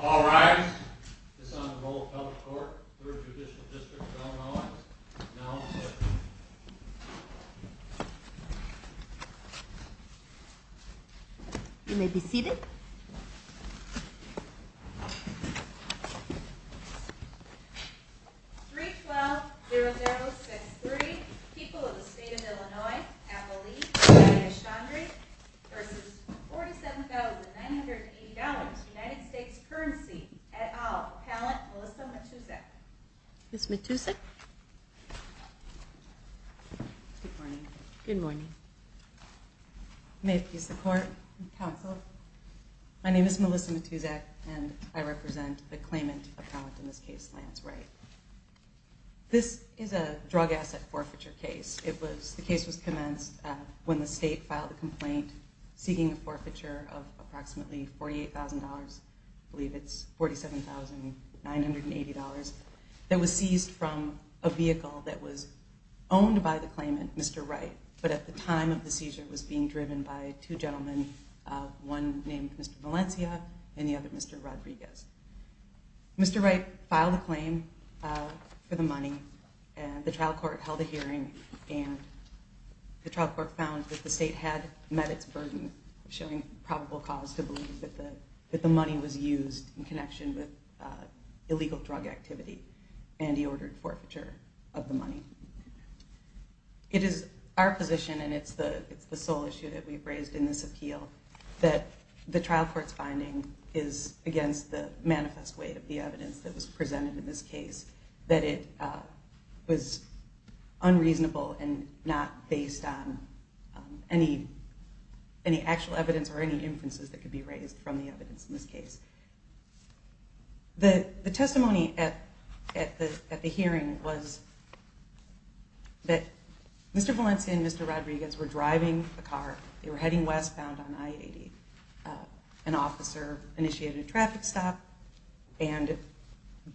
All rise. It's on the roll of public court. 3rd Judicial District of Illinois is now in session. You may be seated. 312-0063, People of the State of Illinois, Appalachia-Chandray v. $47,980.00 United States Currency et al., Appellant Melissa Matuszek. Ms. Matuszek? Good morning. Good morning. May it please the court and counsel, my name is Melissa Matuszek and I represent the claimant appellant in this case, Lance Wright. This is a drug asset forfeiture case. The case was commenced when the state filed a complaint seeking a forfeiture of approximately $48,000.00. I believe it's $47,980.00 that was seized from a vehicle that was owned by the claimant, Mr. Wright. But at the time of the seizure it was being driven by two gentlemen, one named Mr. Valencia and the other Mr. Rodriguez. Mr. Wright filed a claim for the money and the trial court held a hearing and the trial court found that the state had met its burden of showing probable cause to believe that the money was used in connection with illegal drug activity and he ordered forfeiture of the money. It is our position and it's the sole issue that we've raised in this appeal that the trial court's finding is against the manifest way of the evidence that was presented in this case, that it was unreasonable and not based on any actual evidence or any inferences that could be raised from the evidence in this case. The testimony at the hearing was that Mr. Valencia and Mr. Rodriguez were driving a car, they were heading westbound on I-80. An officer initiated a traffic stop and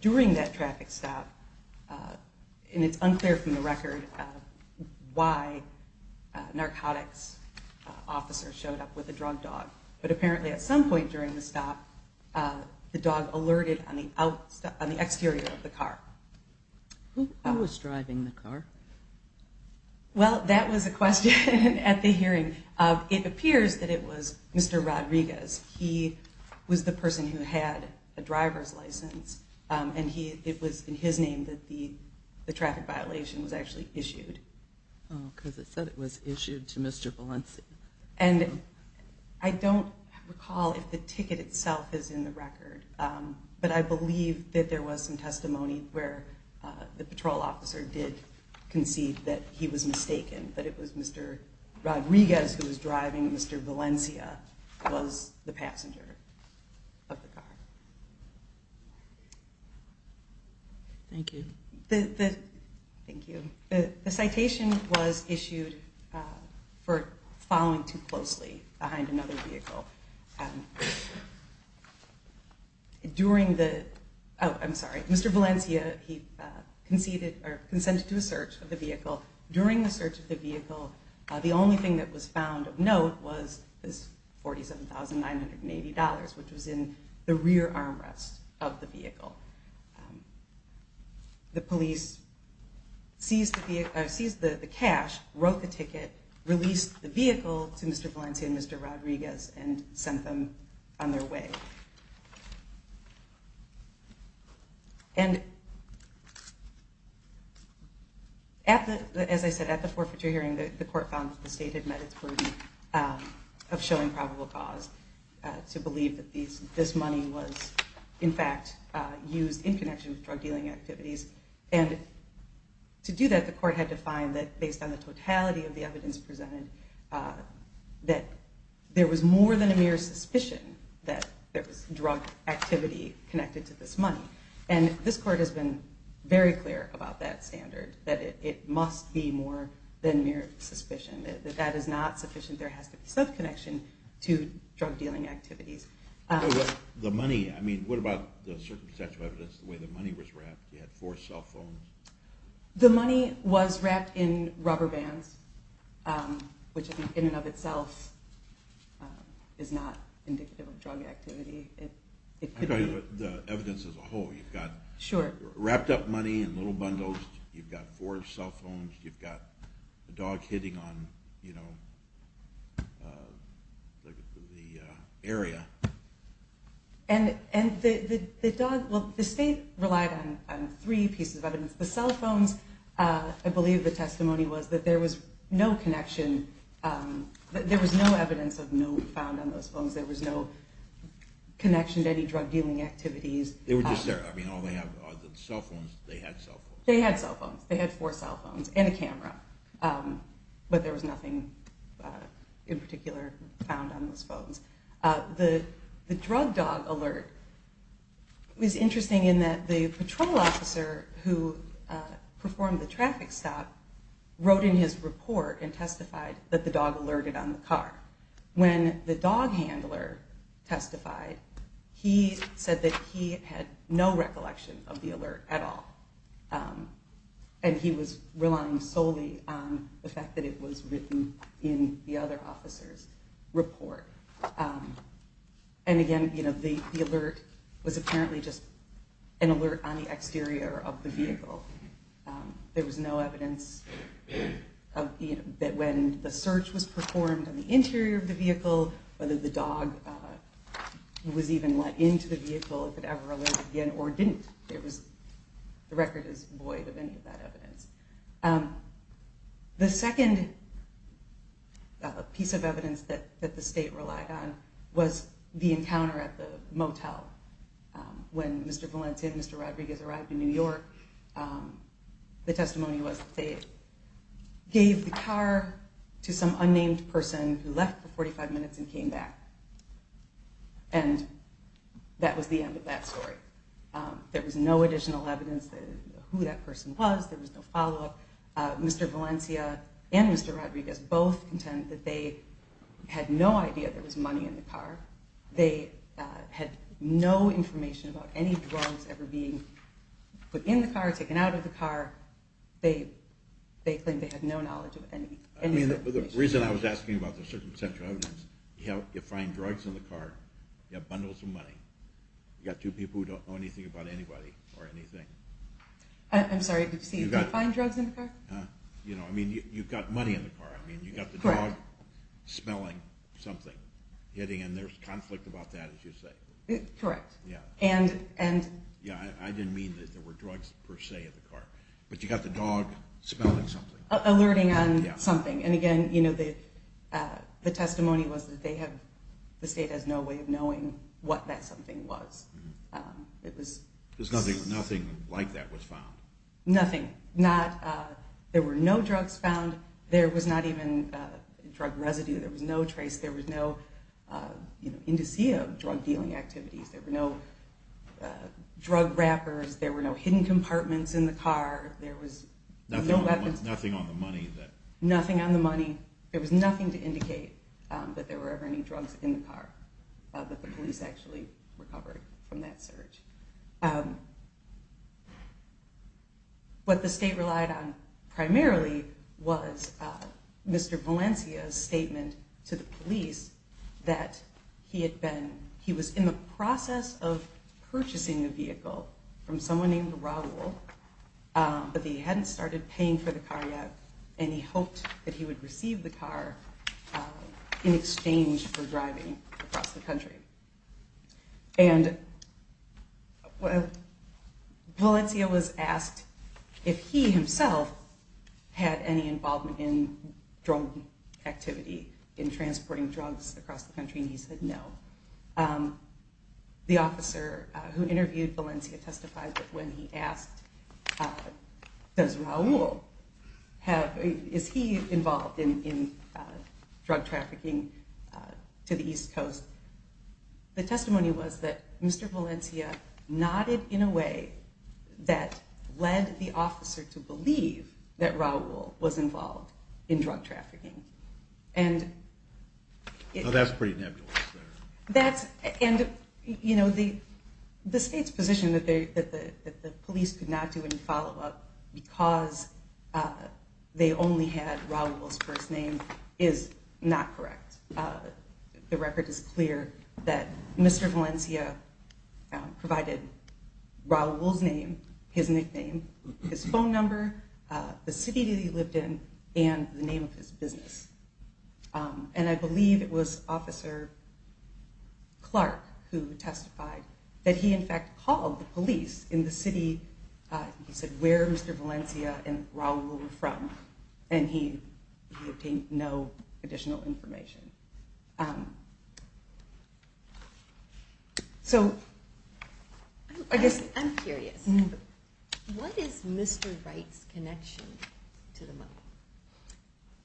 during that traffic stop, and it's unclear from the record why a narcotics officer showed up with a drug dog, but apparently at some point during the stop the dog alerted on the exterior of the car. Who was driving the car? Well, that was a question at the hearing. It appears that it was Mr. Rodriguez. He was the person who had a driver's license and it was in his name that the traffic violation was actually issued. Oh, because it said it was issued to Mr. Valencia. And I don't recall if the ticket itself is in the record, but I believe that there was some testimony where the patrol officer did concede that he was mistaken, that it was Mr. Rodriguez who was driving, Mr. Valencia was the passenger of the car. Thank you. Thank you. The citation was issued for following too closely behind another vehicle. During the, oh, I'm sorry, Mr. Valencia, he conceded or consented to a search of the vehicle. The police seized the cash, wrote the ticket, released the vehicle to Mr. Valencia and Mr. Rodriguez and sent them on their way. And as I said, at the forfeiture hearing the court found that the state had met its burden of showing probable cause to believe that this money was, in fact, used in connection with drug dealing activities. And to do that, the court had to find that based on the totality of the evidence presented, that there was more than a mere suspicion that there was drug activity connected to this money. And this court has been very clear about that standard, that it must be more than mere suspicion, that that is not sufficient. There has to be some connection to drug dealing activities. The money, I mean, what about the circumstantial evidence, the way the money was wrapped? You had four cell phones. The money was wrapped in rubber bands, which in and of itself is not indicative of drug activity. I'm talking about the evidence as a whole. You've got wrapped up money in little bundles. You've got four cell phones. You've got a dog hitting on, you know, the area. And the state relied on three pieces of evidence. The cell phones, I believe the testimony was that there was no connection. There was no evidence found on those phones. There was no connection to any drug dealing activities. They were just there. I mean, all they have are the cell phones. They had cell phones. They had cell phones. They had four cell phones and a camera. But there was nothing in particular found on those phones. The drug dog alert was interesting in that the patrol officer who performed the traffic stop wrote in his report and testified that the dog alerted on the car. When the dog handler testified, he said that he had no recollection of the alert at all. And he was relying solely on the fact that it was written in the other officer's report. And again, you know, the alert was apparently just an alert on the exterior of the vehicle. There was no evidence that when the search was performed on the interior of the vehicle, whether the dog was even let into the vehicle, if it ever alerted again or didn't. The record is void of any of that evidence. The second piece of evidence that the state relied on was the encounter at the motel. When Mr. Valencia and Mr. Rodriguez arrived in New York, the testimony was that they gave the car to some unnamed person who left for 45 minutes and came back. And that was the end of that story. There was no additional evidence who that person was. There was no follow-up. Mr. Valencia and Mr. Rodriguez both contend that they had no idea there was money in the car. They had no information about any drugs ever being put in the car, taken out of the car. They claim they had no knowledge of any of that. I mean, the reason I was asking about the circumstantial evidence, you find drugs in the car, you have bundles of money. You've got two people who don't know anything about anybody or anything. I'm sorry, Steve, you find drugs in the car? I mean, you've got money in the car. I mean, you've got the dog smelling something, and there's conflict about that, as you say. Correct. Yeah, I didn't mean that there were drugs, per se, in the car. But you've got the dog smelling something. Alerting on something. And again, the testimony was that the state has no way of knowing what that something was. Because nothing like that was found. Nothing. There were no drugs found. There was not even drug residue. There was no trace. There was no indicia of drug dealing activities. There were no drug wrappers. There were no hidden compartments in the car. There was no weapons. Nothing on the money. Nothing on the money. There was nothing to indicate that there were ever any drugs in the car, that the police actually recovered from that search. What the state relied on primarily was Mr. Valencia's statement to the police that he was in the process of purchasing a vehicle from someone named Raul, but that he hadn't started paying for the car yet, and he hoped that he would receive the car in exchange for driving across the country. And Valencia was asked if he himself had any involvement in drug activity, in transporting drugs across the country, and he said no. The officer who interviewed Valencia testified that when he asked, does Raul have, is he involved in drug trafficking to the East Coast, the testimony was that Mr. Valencia nodded in a way that led the officer to believe that Raul was involved in drug trafficking. Now that's pretty nebulous there. And, you know, the state's position that the police could not do any follow-up because they only had Raul's first name is not correct. The record is clear that Mr. Valencia provided Raul's name, his nickname, his phone number, the city that he lived in, and the name of his business. And I believe it was Officer Clark who testified that he in fact called the police in the city, he said where Mr. Valencia and Raul were from, and he obtained no additional information. So, I guess... I'm curious, what is Mr. Wright's connection to the mobile?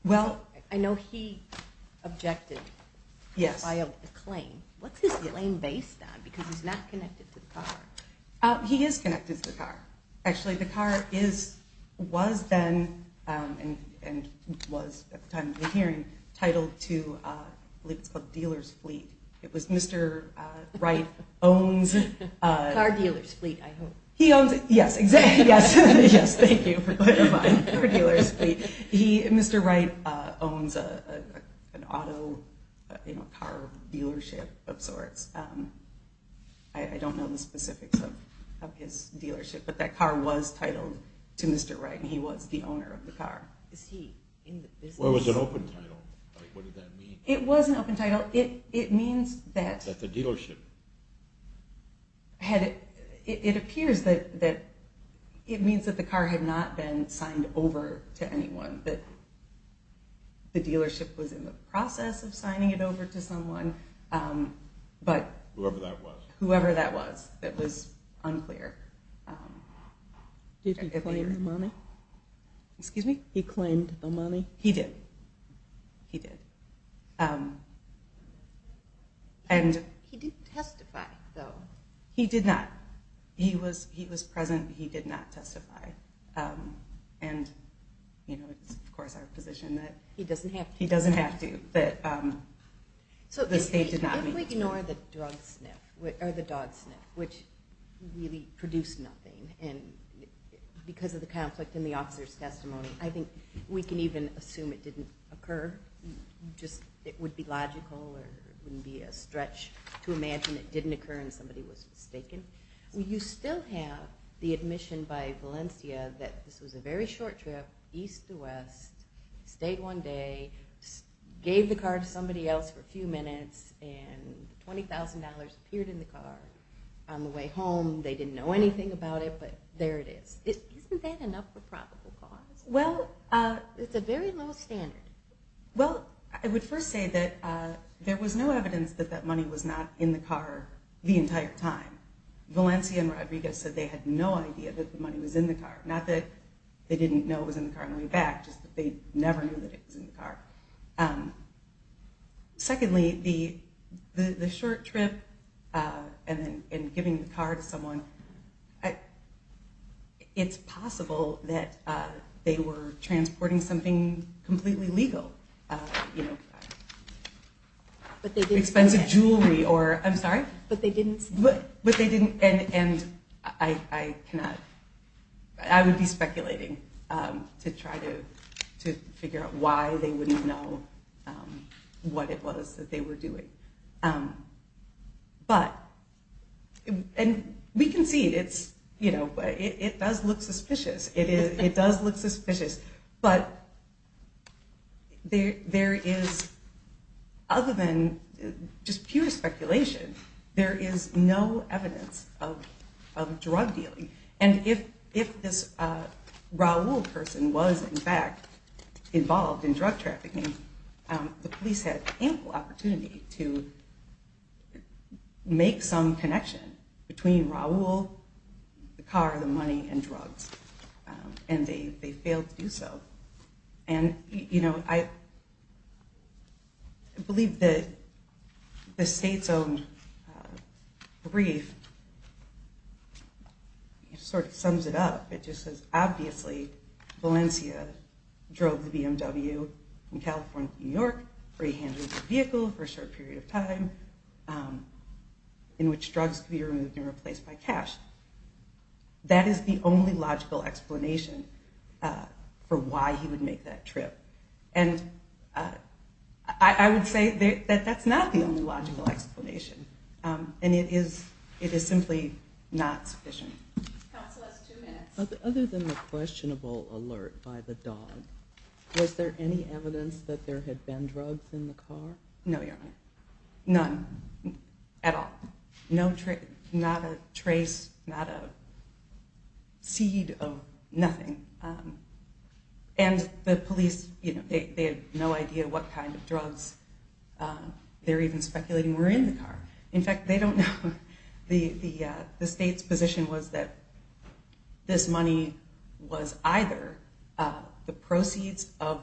Well... I know he objected... Yes. ...to the claim. What's his claim based on? Because he's not connected to the car. He is connected to the car. Actually, the car was then, and was at the time of the hearing, titled to, I believe it's called Dealer's Fleet. It was Mr. Wright owns... Car Dealer's Fleet, I hope. He owns... Yes, exactly. Yes, thank you for clarifying. Car Dealer's Fleet. Mr. Wright owns an auto car dealership of sorts. I don't know the specifics of his dealership, but that car was titled to Mr. Wright, and he was the owner of the car. Is he in the business? It was an open title. What did that mean? It was an open title. It means that... That the dealership... It appears that it means that the car had not been signed over to anyone, that the dealership was in the process of signing it over to someone, but... Whoever that was. Whoever that was, that was unclear. Did he claim the money? Excuse me? He claimed the money? He did. He did. He didn't testify, though. He did not. He was present, but he did not testify. And it's, of course, our position that... He doesn't have to. He doesn't have to, but the state did not... If we ignore the dog sniff, which really produced nothing, because of the conflict in the officer's testimony, I think we can even assume it didn't occur. It would be logical. It wouldn't be a stretch to imagine it didn't occur and somebody was mistaken. You still have the admission by Valencia that this was a very short trip, east to west, stayed one day, gave the car to somebody else for a few minutes, and $20,000 appeared in the car on the way home. They didn't know anything about it, but there it is. Isn't that enough for probable cause? Well, it's a very low standard. Well, I would first say that there was no evidence that that money was not in the car the entire time. Valencia and Rodriguez said they had no idea that the money was in the car. Not that they didn't know it was in the car on the way back, just that they never knew that it was in the car. Secondly, the short trip and giving the car to someone, it's possible that they were transporting something completely legal. Expensive jewelry or, I'm sorry? But they didn't say. But they didn't, and I cannot, I would be speculating to try to figure out why they wouldn't know what it was that they were doing. But, and we can see, it does look suspicious. It does look suspicious, but there is, other than just pure speculation, there is no evidence of drug dealing. And if this Raul person was, in fact, involved in drug trafficking, the police had ample opportunity to make some connection between Raul, the car, the money, and drugs. And they failed to do so. And, you know, I believe that the state's own brief sort of sums it up. It just says, obviously, Valencia drove the BMW from California to New York where he handled the vehicle for a short period of time in which drugs could be removed and replaced by cash. That is the only logical explanation for why he would make that trip. And I would say that that's not the only logical explanation. And it is simply not sufficient. Counsel has two minutes. Other than the questionable alert by the dog, was there any evidence that there had been drugs in the car? No, Your Honor. None. At all. Not a trace, not a seed of nothing. And the police, you know, they had no idea what kind of drugs they were even speculating were in the car. In fact, they don't know. The state's position was that this money was either the proceeds of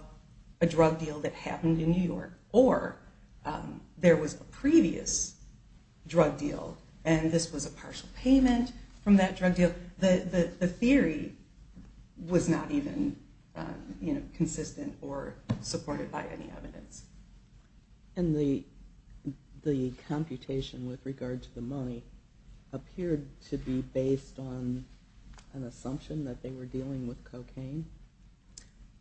a drug deal that happened in New York or there was a previous drug deal and this was a partial payment from that drug deal. The theory was not even consistent or supported by any evidence. And the computation with regard to the money appeared to be based on an assumption that they were dealing with cocaine.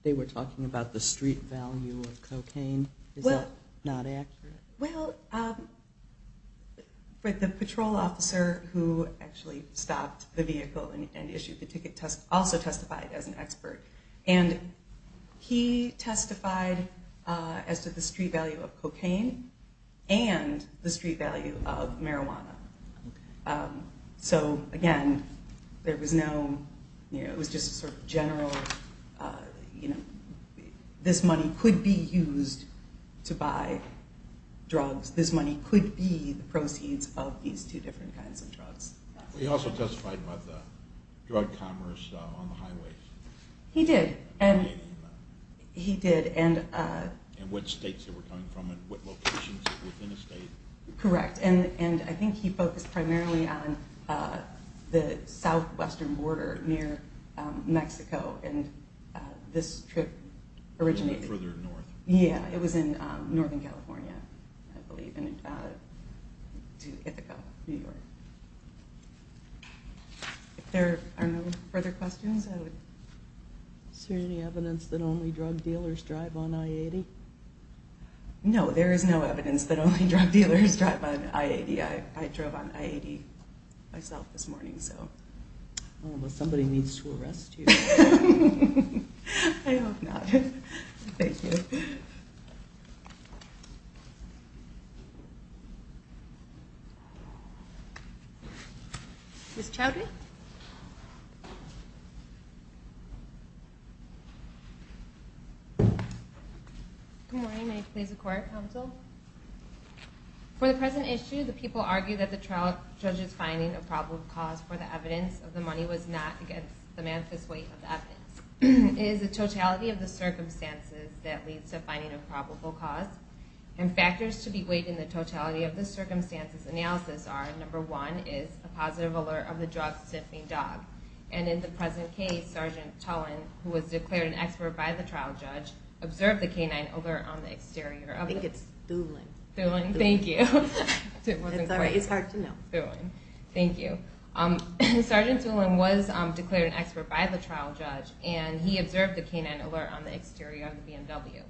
They were talking about the street value of cocaine. Is that not accurate? Well, the patrol officer who actually stopped the vehicle and issued the ticket also testified as an expert. And he testified as to the street value of cocaine and the street value of marijuana. So, again, there was no... It was just sort of general, you know, this money could be used to buy drugs. This money could be the proceeds of these two different kinds of drugs. He also testified about the drug commerce on the highway. He did. He did. And what states they were coming from and what locations within a state. Correct. And I think he focused primarily on the southwestern border near Mexico and this trip originated... It was further north. Yeah, it was in northern California, I believe, to Ithaca, New York. If there are no further questions, I would... Is there any evidence that only drug dealers drive on I-80? No, there is no evidence that only drug dealers drive on I-80. I drove on I-80 myself this morning, so... Well, somebody needs to arrest you. I hope not. Thank you. Ms. Chowdhury? Good morning. May it please the Court, counsel? For the present issue, the people argue that the trial judge's finding of probable cause for the evidence of the money was not against the manifest weight of the evidence. It is the totality of the circumstances that leads to finding a probable cause, and factors to be weighed in the totality of the circumstances analysis are, number one, is a positive alert of the drug sniffing dog. And in the present case, Sergeant Tullen, who was declared an expert by the trial judge, observed the canine alert on the exterior of the... I think it's Thulin. Thulin, thank you. It's hard to know. Thank you. Sergeant Thulin was declared an expert by the trial judge, and he observed the canine alert on the exterior of the BMW.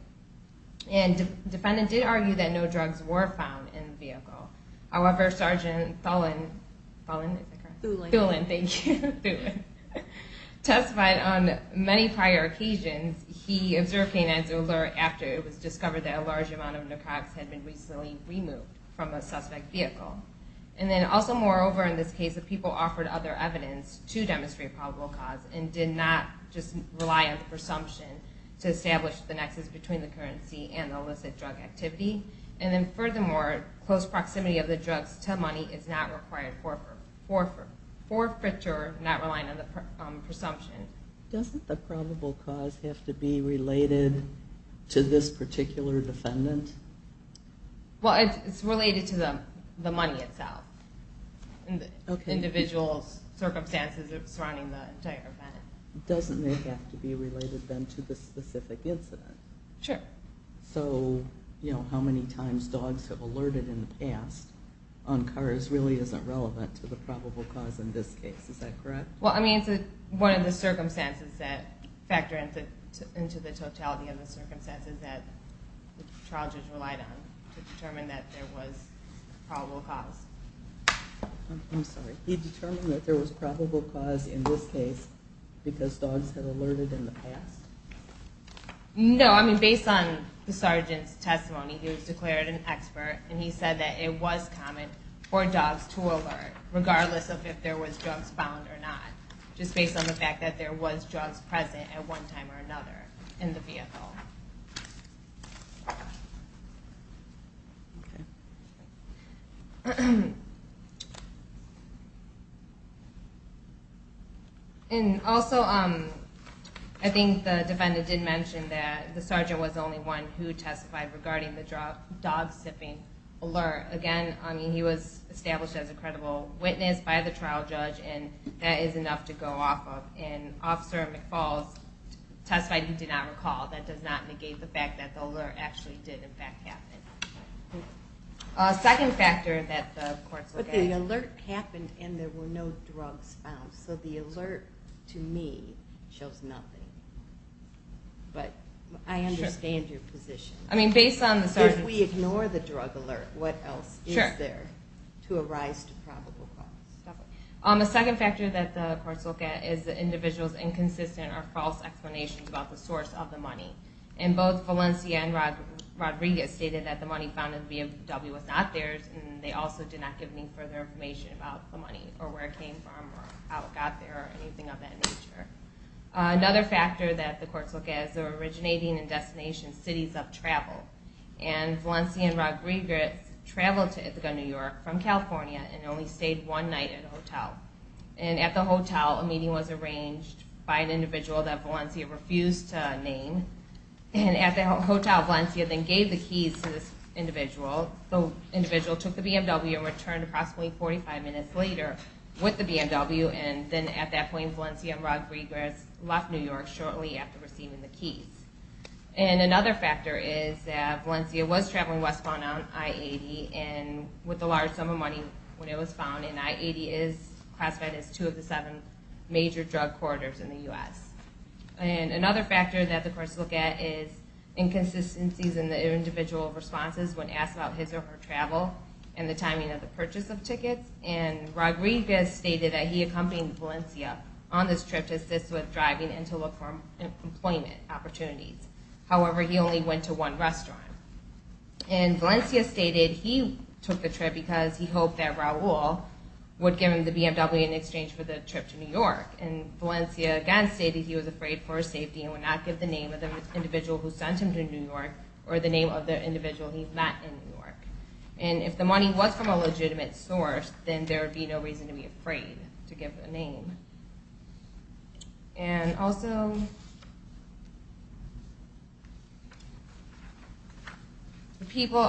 And the defendant did argue that no drugs were found in the vehicle. However, Sergeant Thulin... Thulin, is that correct? Thulin. Thulin, thank you. Thulin. Testified on many prior occasions, he observed canine alert after it was discovered that a large amount of narcotics had been recently removed from a suspect vehicle. And then also, moreover, in this case, the people offered other evidence to demonstrate probable cause and did not just rely on the presumption to establish the nexus between the currency and the illicit drug activity. And then furthermore, close proximity of the drugs to money is not required forfeiture, not relying on the presumption. Doesn't the probable cause have to be related to this particular defendant? Well, it's related to the money itself, the individual's circumstances surrounding the entire event. Doesn't it have to be related then to the specific incident? Sure. Okay. So how many times dogs have alerted in the past on cars really isn't relevant to the probable cause in this case. Is that correct? Well, I mean, it's one of the circumstances that factor into the totality of the circumstances that the charges relied on to determine that there was probable cause. I'm sorry. He determined that there was probable cause in this case because dogs had alerted in the past? No. I mean, based on the sergeant's testimony, he was declared an expert, and he said that it was common for dogs to alert, regardless of if there was drugs found or not, just based on the fact that there was drugs present at one time or another in the vehicle. Okay. And also, I think the defendant did mention that the sergeant was the only one who testified regarding the dog-sipping alert. Again, I mean, he was established as a credible witness by the trial judge, and that is enough to go off of. And Officer McFalls testified he did not recall. That does not negate the fact that the alert actually did, in fact, happen. Second factor that the courts look at. But the alert happened, and there were no drugs found. So the alert, to me, shows nothing. But I understand your position. I mean, based on the sergeant's testimony. If we ignore the drug alert, what else is there to arise to probable cause? The second factor that the courts look at is the individual's inconsistent or false explanations about the source of the money. And both Valencia and Rodriguez stated that the money found in the BMW was not theirs, and they also did not give any further information about the money or where it came from or how it got there or anything of that nature. Another factor that the courts look at is the originating and destination cities of travel. And Valencia and Rodriguez traveled to Ithaca, New York, from California, and only stayed one night at a hotel. And at the hotel, a meeting was arranged by an individual that Valencia refused to name. And at the hotel, Valencia then gave the keys to this individual. The individual took the BMW and returned approximately 45 minutes later with the BMW. And then at that point, Valencia and Rodriguez left New York shortly after receiving the keys. And another factor is that Valencia was traveling westbound on I-80 with a large sum of money when it was found. And I-80 is classified as two of the seven major drug corridors in the U.S. And another factor that the courts look at is inconsistencies in the individual's responses when asked about his or her travel and the timing of the purchase of tickets. And Rodriguez stated that he accompanied Valencia on this trip to assist with driving and to look for employment opportunities. However, he only went to one restaurant. And Valencia stated he took the trip because he hoped that Raul would give him the BMW in exchange for the trip to New York. And Valencia again stated he was afraid for his safety and would not give the name of the individual who sent him to New York or the name of the individual he met in New York. And if the money was from a legitimate source, And also the people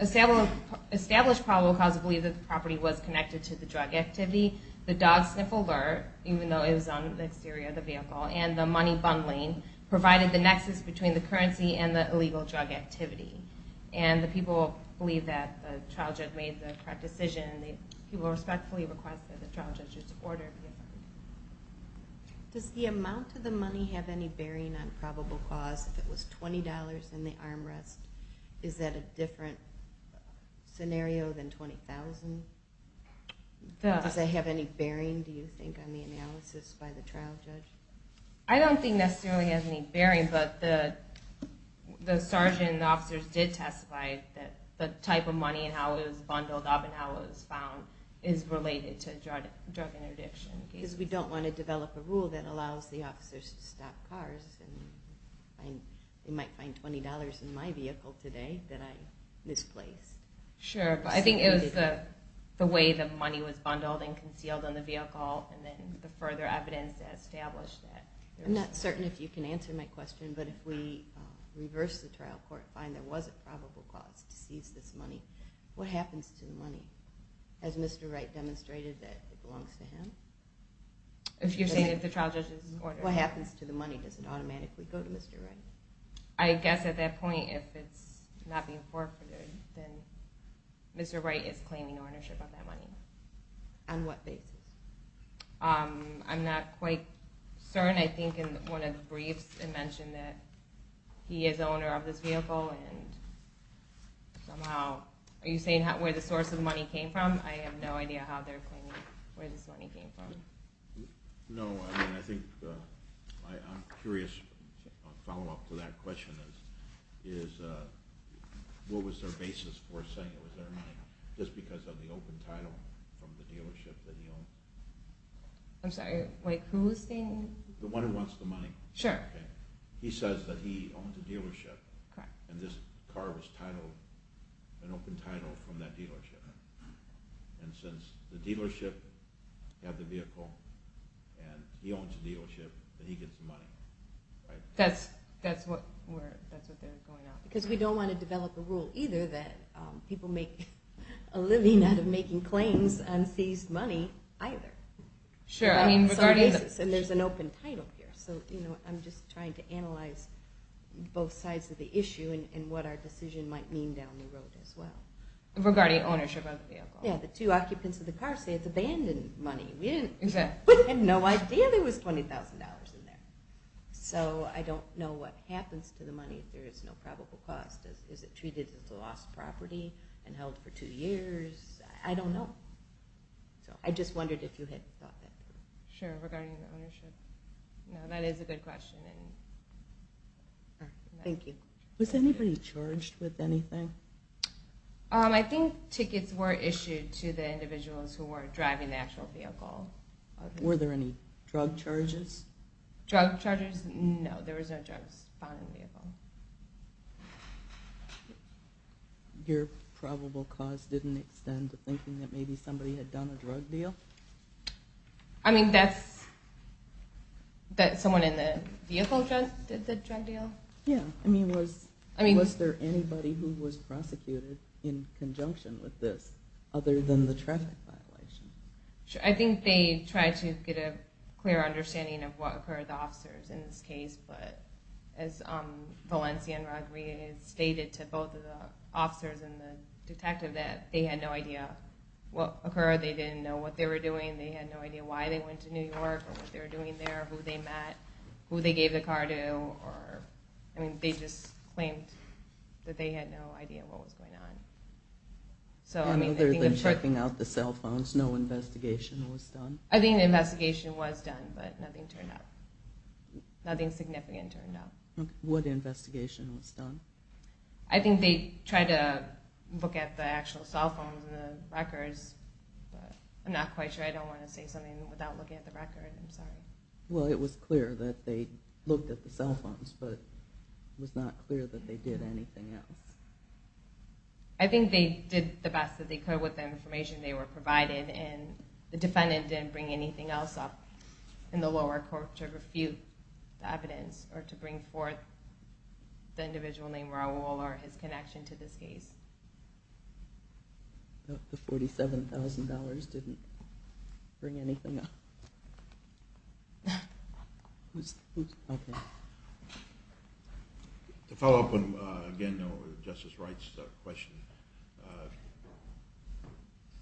established probable cause believe that the property was connected to the drug activity. The dog sniff alert, even though it was on the exterior of the vehicle, and the money bundling provided the nexus between the currency and the illegal drug activity. And the people believe that the trial judge made the correct decision. People respectfully request that the trial judge's order be affirmed. Does the amount of the money have any bearing on probable cause? If it was $20 in the armrest, is that a different scenario than $20,000? Does that have any bearing, do you think, on the analysis by the trial judge? I don't think necessarily it has any bearing, but the sergeant and the officers did testify that the type of money and how it was bundled up and how it was found is related to drug interdiction. Because we don't want to develop a rule that allows the officers to stop cars, and they might find $20 in my vehicle today that I misplaced. Sure, but I think it was the way the money was bundled and concealed in the vehicle, and then the further evidence that established that. I'm not certain if you can answer my question, but if we reverse the trial court, find there was a probable cause to seize this money, what happens to the money? Has Mr. Wright demonstrated that it belongs to him? You're saying that the trial judge's order? What happens to the money? Does it automatically go to Mr. Wright? I guess at that point, if it's not being forfeited, then Mr. Wright is claiming ownership of that money. On what basis? I'm not quite certain. I think in one of the briefs it mentioned that he is the owner of this vehicle. Are you saying where the source of the money came from? I have no idea how they're claiming where this money came from. No, I'm curious. A follow-up to that question is, what was their basis for saying it was their money? Just because of the open title from the dealership that he owned? I'm sorry, whose thing? The one who wants the money. He says that he owns a dealership, and this car was an open title from that dealership. And since the dealership had the vehicle, and he owns the dealership, he gets the money. That's what they're going on. Because we don't want to develop a rule, either, that people make a living out of making claims on seized money, either. There's an open title here. I'm just trying to analyze both sides of the issue and what our decision might mean down the road as well. Regarding ownership of the vehicle. The two occupants of the car say it's abandoned money. We had no idea there was $20,000 in there. So I don't know what happens to the money if there is no probable cause. Is it treated as a lost property and held for two years? I don't know. I just wondered if you had thought that through. Sure, regarding ownership. That is a good question. Thank you. Was anybody charged with anything? I think tickets were issued to the individuals who were driving the actual vehicle. Were there any drug charges? No, there were no drugs found in the vehicle. Your probable cause didn't extend to thinking that maybe somebody had done a drug deal? I mean, that someone in the vehicle did the drug deal? Yeah. Was there anybody who was prosecuted in conjunction with this other than the traffic violation? I think they tried to get a clear understanding of what occurred to the officers in this case. But as Valencia and Rodriguez stated to both of the officers and the detective, that they had no idea what occurred. They didn't know what they were doing. They had no idea why they went to New York or what they were doing there, who they met, who they gave the car to. I mean, they just claimed that they had no idea what was going on. Other than checking out the cell phones, no investigation was done? I think the investigation was done, but nothing turned up. Nothing significant turned up. What investigation was done? I think they tried to look at the actual cell phones and the records, but I'm not quite sure. I don't want to say something without looking at the record. I'm sorry. Well, it was clear that they looked at the cell phones, but it was not clear that they did anything else. I think they did the best that they could with the information they were provided, and the defendant didn't bring anything else up in the lower court to refute the evidence or to bring forth the individual named Raul or his connection to this case. The $47,000 didn't bring anything up. Who's...? Okay. To follow up on, again, Justice Wright's question,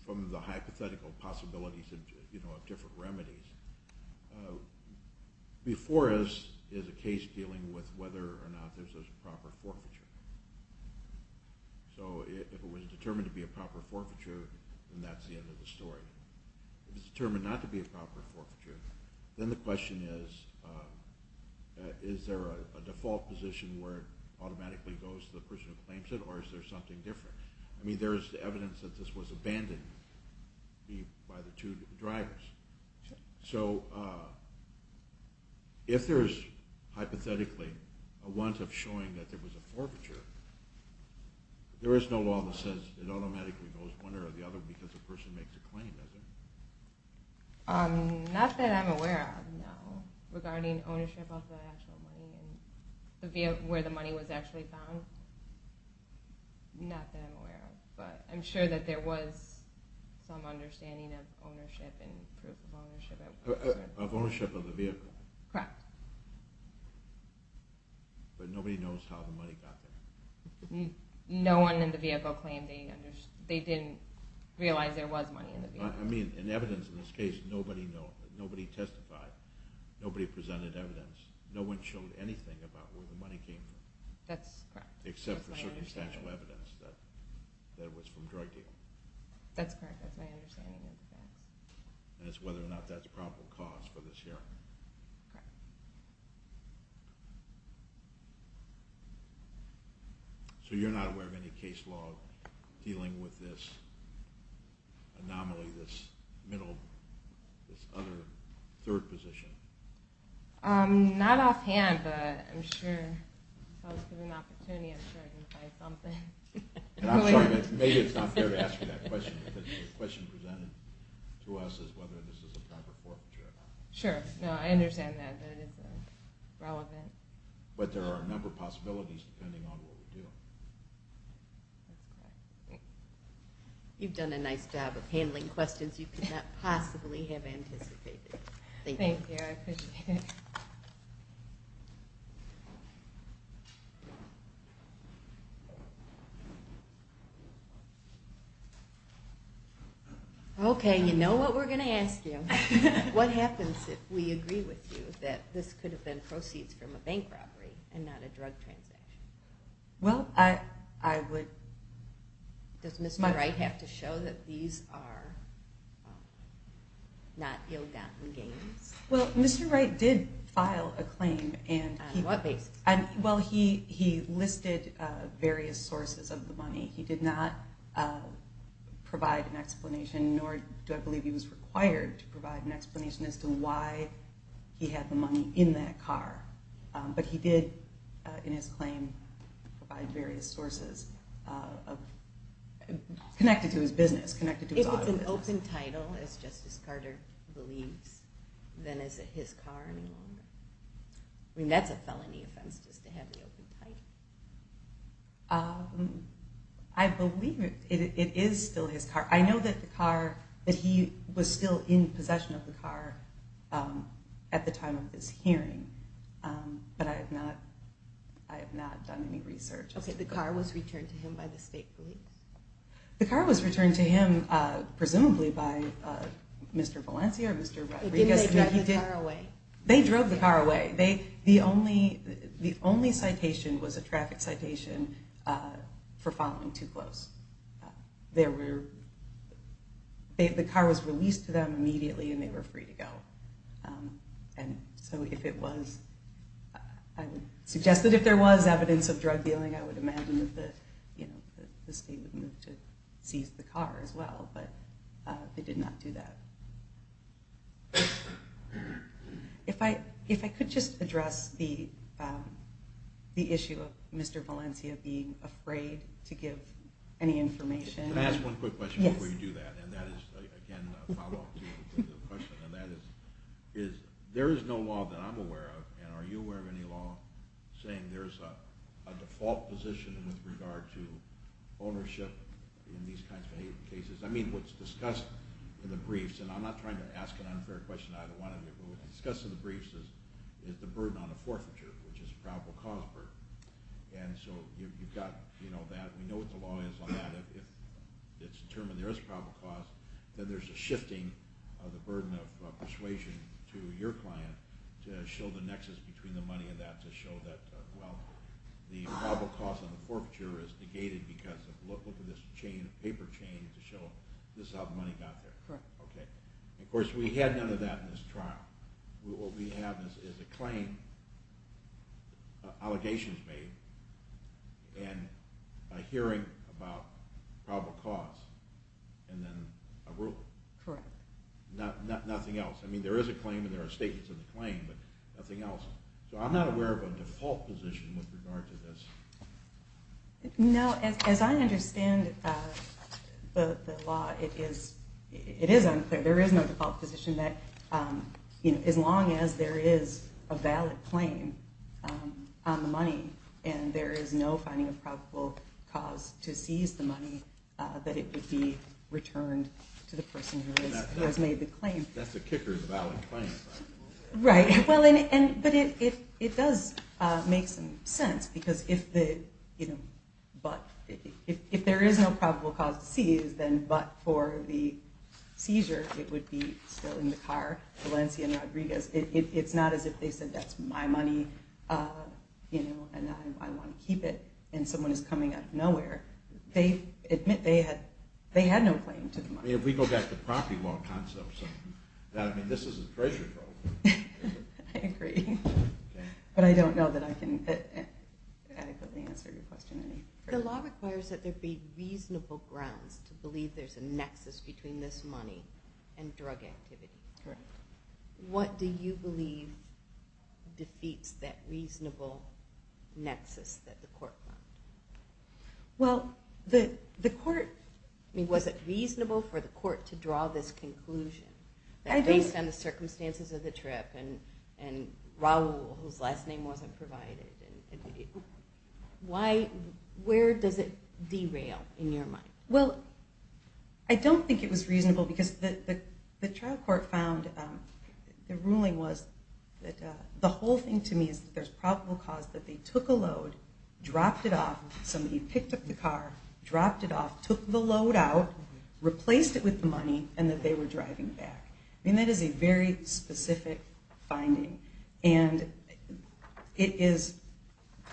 from the hypothetical possibilities of different remedies, before us is a case dealing with whether or not there's a proper forfeiture. So if it was determined to be a proper forfeiture, then that's the end of the story. If it's determined not to be a proper forfeiture, then the question is, is there a default position where it automatically goes to the person who claims it, or is there something different? I mean, there is evidence that this was abandoned by the two drivers. So if there's, hypothetically, a want of showing that there was a forfeiture, there is no law that says it automatically goes one way or the other because the person makes a claim, does it? Not that I'm aware of, no. Regarding ownership of the actual money, where the money was actually found, not that I'm aware of. But I'm sure that there was some understanding of ownership and proof of ownership... Of ownership of the vehicle. Correct. But nobody knows how the money got there. No one in the vehicle claimed they didn't... Realize there was money in the vehicle. I mean, in evidence in this case, nobody testified. Nobody presented evidence. No one showed anything about where the money came from. That's correct. Except for circumstantial evidence that it was from a drug deal. That's correct. That's my understanding of the facts. And it's whether or not that's a probable cause for this hearing. Correct. So you're not aware of any case law dealing with this anomaly, this middle, this other, third position? Not offhand, but I'm sure... If I was given an opportunity, I'm sure I can find something. And I'm sorry, but maybe it's not fair to ask you that question because the question presented to us is whether this is a proper forfeiture. Sure. No, I understand that. I understand that it's relevant. But there are a number of possibilities depending on what we do. You've done a nice job of handling questions you could not possibly have anticipated. Thank you. Thank you, I appreciate it. Okay, you know what we're going to ask you. What happens if we agree with you that this could have been proceeds from a bank robbery and not a drug transaction? Well, I would... Does Mr. Wright have to show that these are not ill-gotten gains? Well, Mr. Wright did file a claim. On what basis? Well, he listed various sources of the money. He did not provide an explanation, nor do I believe he was required to provide an explanation as to why he had the money in that car. But he did, in his claim, provide various sources connected to his business, connected to his auto business. If it's an open title, as Justice Carter believes, then is it his car any longer? I mean, that's a felony offense just to have the open title. I believe it is still his car. I know that he was still in possession of the car at the time of this hearing, but I have not done any research. Okay, the car was returned to him by the state police? The car was returned to him, presumably, by Mr. Valencia or Mr. Rodriguez. Didn't they drive the car away? They drove the car away. The only citation was a traffic citation for following too close. There were... The car was released to them immediately, and they were free to go. And so if it was... I would suggest that if there was evidence of drug dealing, I would imagine that the state would move to seize the car as well, but they did not do that. If I could just address the issue of Mr. Valencia being afraid to give any information... Can I ask one quick question before you do that? And that is, again, a follow-up to the question, and that is, there is no law that I'm aware of, and are you aware of any law saying there's a default position with regard to ownership in these kinds of cases? I mean, what's discussed in the briefs, and I'm not trying to ask an unfair question to either one of you, but what's discussed in the briefs is the burden on a forfeiture, which is a probable cause burden. And so you've got that. We know what the law is on that. If it's determined there is a probable cause, then there's a shifting of the burden of persuasion to your client to show the nexus between the money and that, to show that, well, the probable cause on the forfeiture is negated because look at this paper chain to show this is how the money got there. Of course, we had none of that in this trial. What we have is a claim, allegations made, and a hearing about probable cause, and then a rule. Correct. Nothing else. I mean, there is a claim and there are statements in the claim, but nothing else. So I'm not aware of a default position with regard to this. No, as I understand the law, it is unclear. There is no default position that as long as there is a valid claim on the money and there is no finding of probable cause to seize the money, that it would be returned to the person who has made the claim. That's the kicker, the valid claim. Right. But it does make some sense because if there is no probable cause to seize, then but for the seizure, it would be still in the car, Valencia and Rodriguez. It's not as if they said that's my money and I want to keep it and someone is coming out of nowhere. They admit they had no claim to the money. If we go back to property law concepts, this is a treasure trove. I agree. But I don't know that I can adequately answer your question. The law requires that there be reasonable grounds to believe there's a nexus between this money and drug activity. Correct. What do you believe defeats that reasonable nexus that the court found? Well, the court, I mean, was it reasonable for the court to draw this conclusion that based on the circumstances of the trip and Raul, whose last name wasn't provided, where does it derail in your mind? Well, I don't think it was reasonable because the trial court found the ruling was that the whole thing to me is that there's probable cause that they took a load, dropped it off, somebody picked up the car, dropped it off, took the load out, replaced it with the money, and that they were driving back. I mean, that is a very specific finding. And it is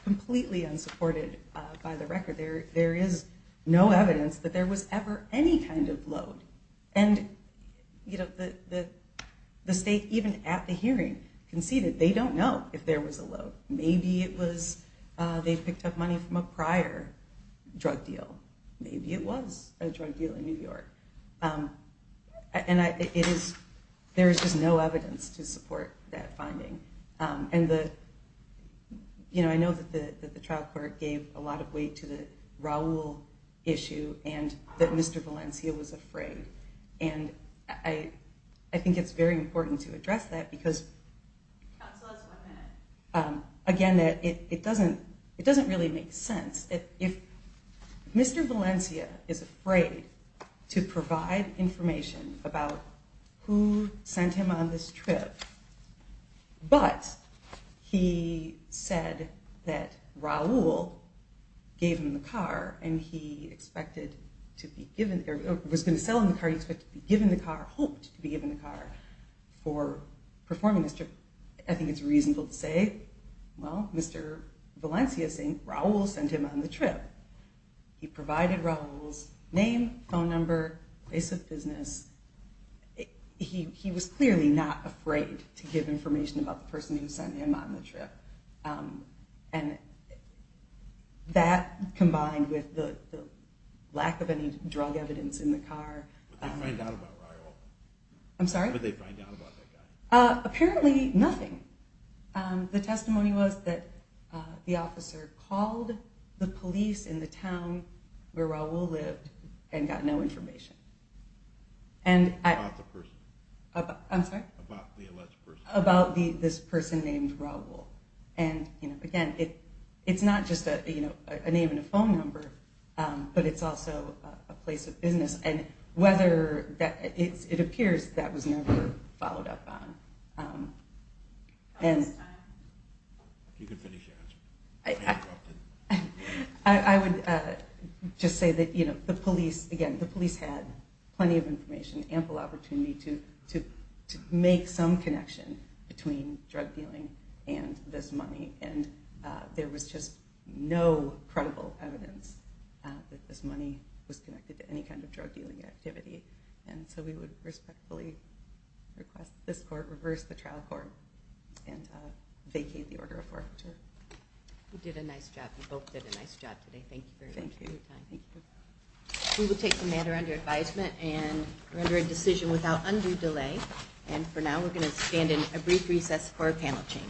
completely unsupported by the record. There is no evidence that there was ever any kind of load. And the state, even at the hearing, can see that they don't know if there was a load. Maybe it was they picked up money from a prior drug deal. Maybe it was a drug deal in New York. And there is just no evidence to support that finding. And I know that the trial court gave a lot of weight to the Raul issue and that Mr. Valencia was afraid. And I think it's very important to address that because, again, it doesn't really make sense. If Mr. Valencia is afraid to provide information about who sent him on this trip, but he said that Raul gave him the car and he was going to sell him the car, he expected to be given the car, hoped to be given the car, for performing this trip, I think it's reasonable to say, well, Mr. Valencia is saying Raul sent him on the trip. He provided Raul's name, phone number, place of business. He was clearly not afraid to give information about the person who sent him on the trip. And that combined with the lack of any drug evidence in the car. What did they find out about Raul? I'm sorry? What did they find out about that guy? Apparently nothing. The testimony was that the officer called the police in the town where Raul lived and got no information. About the person? I'm sorry? About the alleged person? About this person named Raul. And, again, it's not just a name and a phone number, but it's also a place of business. It appears that was never followed up on. You can finish your answer. I would just say that the police, again, the police had plenty of information, ample opportunity to make some connection between drug dealing and this money. And there was just no credible evidence that this money was connected to any kind of drug dealing activity. And so we would respectfully request that this court reverse the trial court and vacate the order of forfeiture. You did a nice job. You both did a nice job today. Thank you very much for your time. Thank you. We will take the matter under advisement and render a decision without undue delay. And for now we're going to stand in a brief recess for a panel change. Board, it's now recess.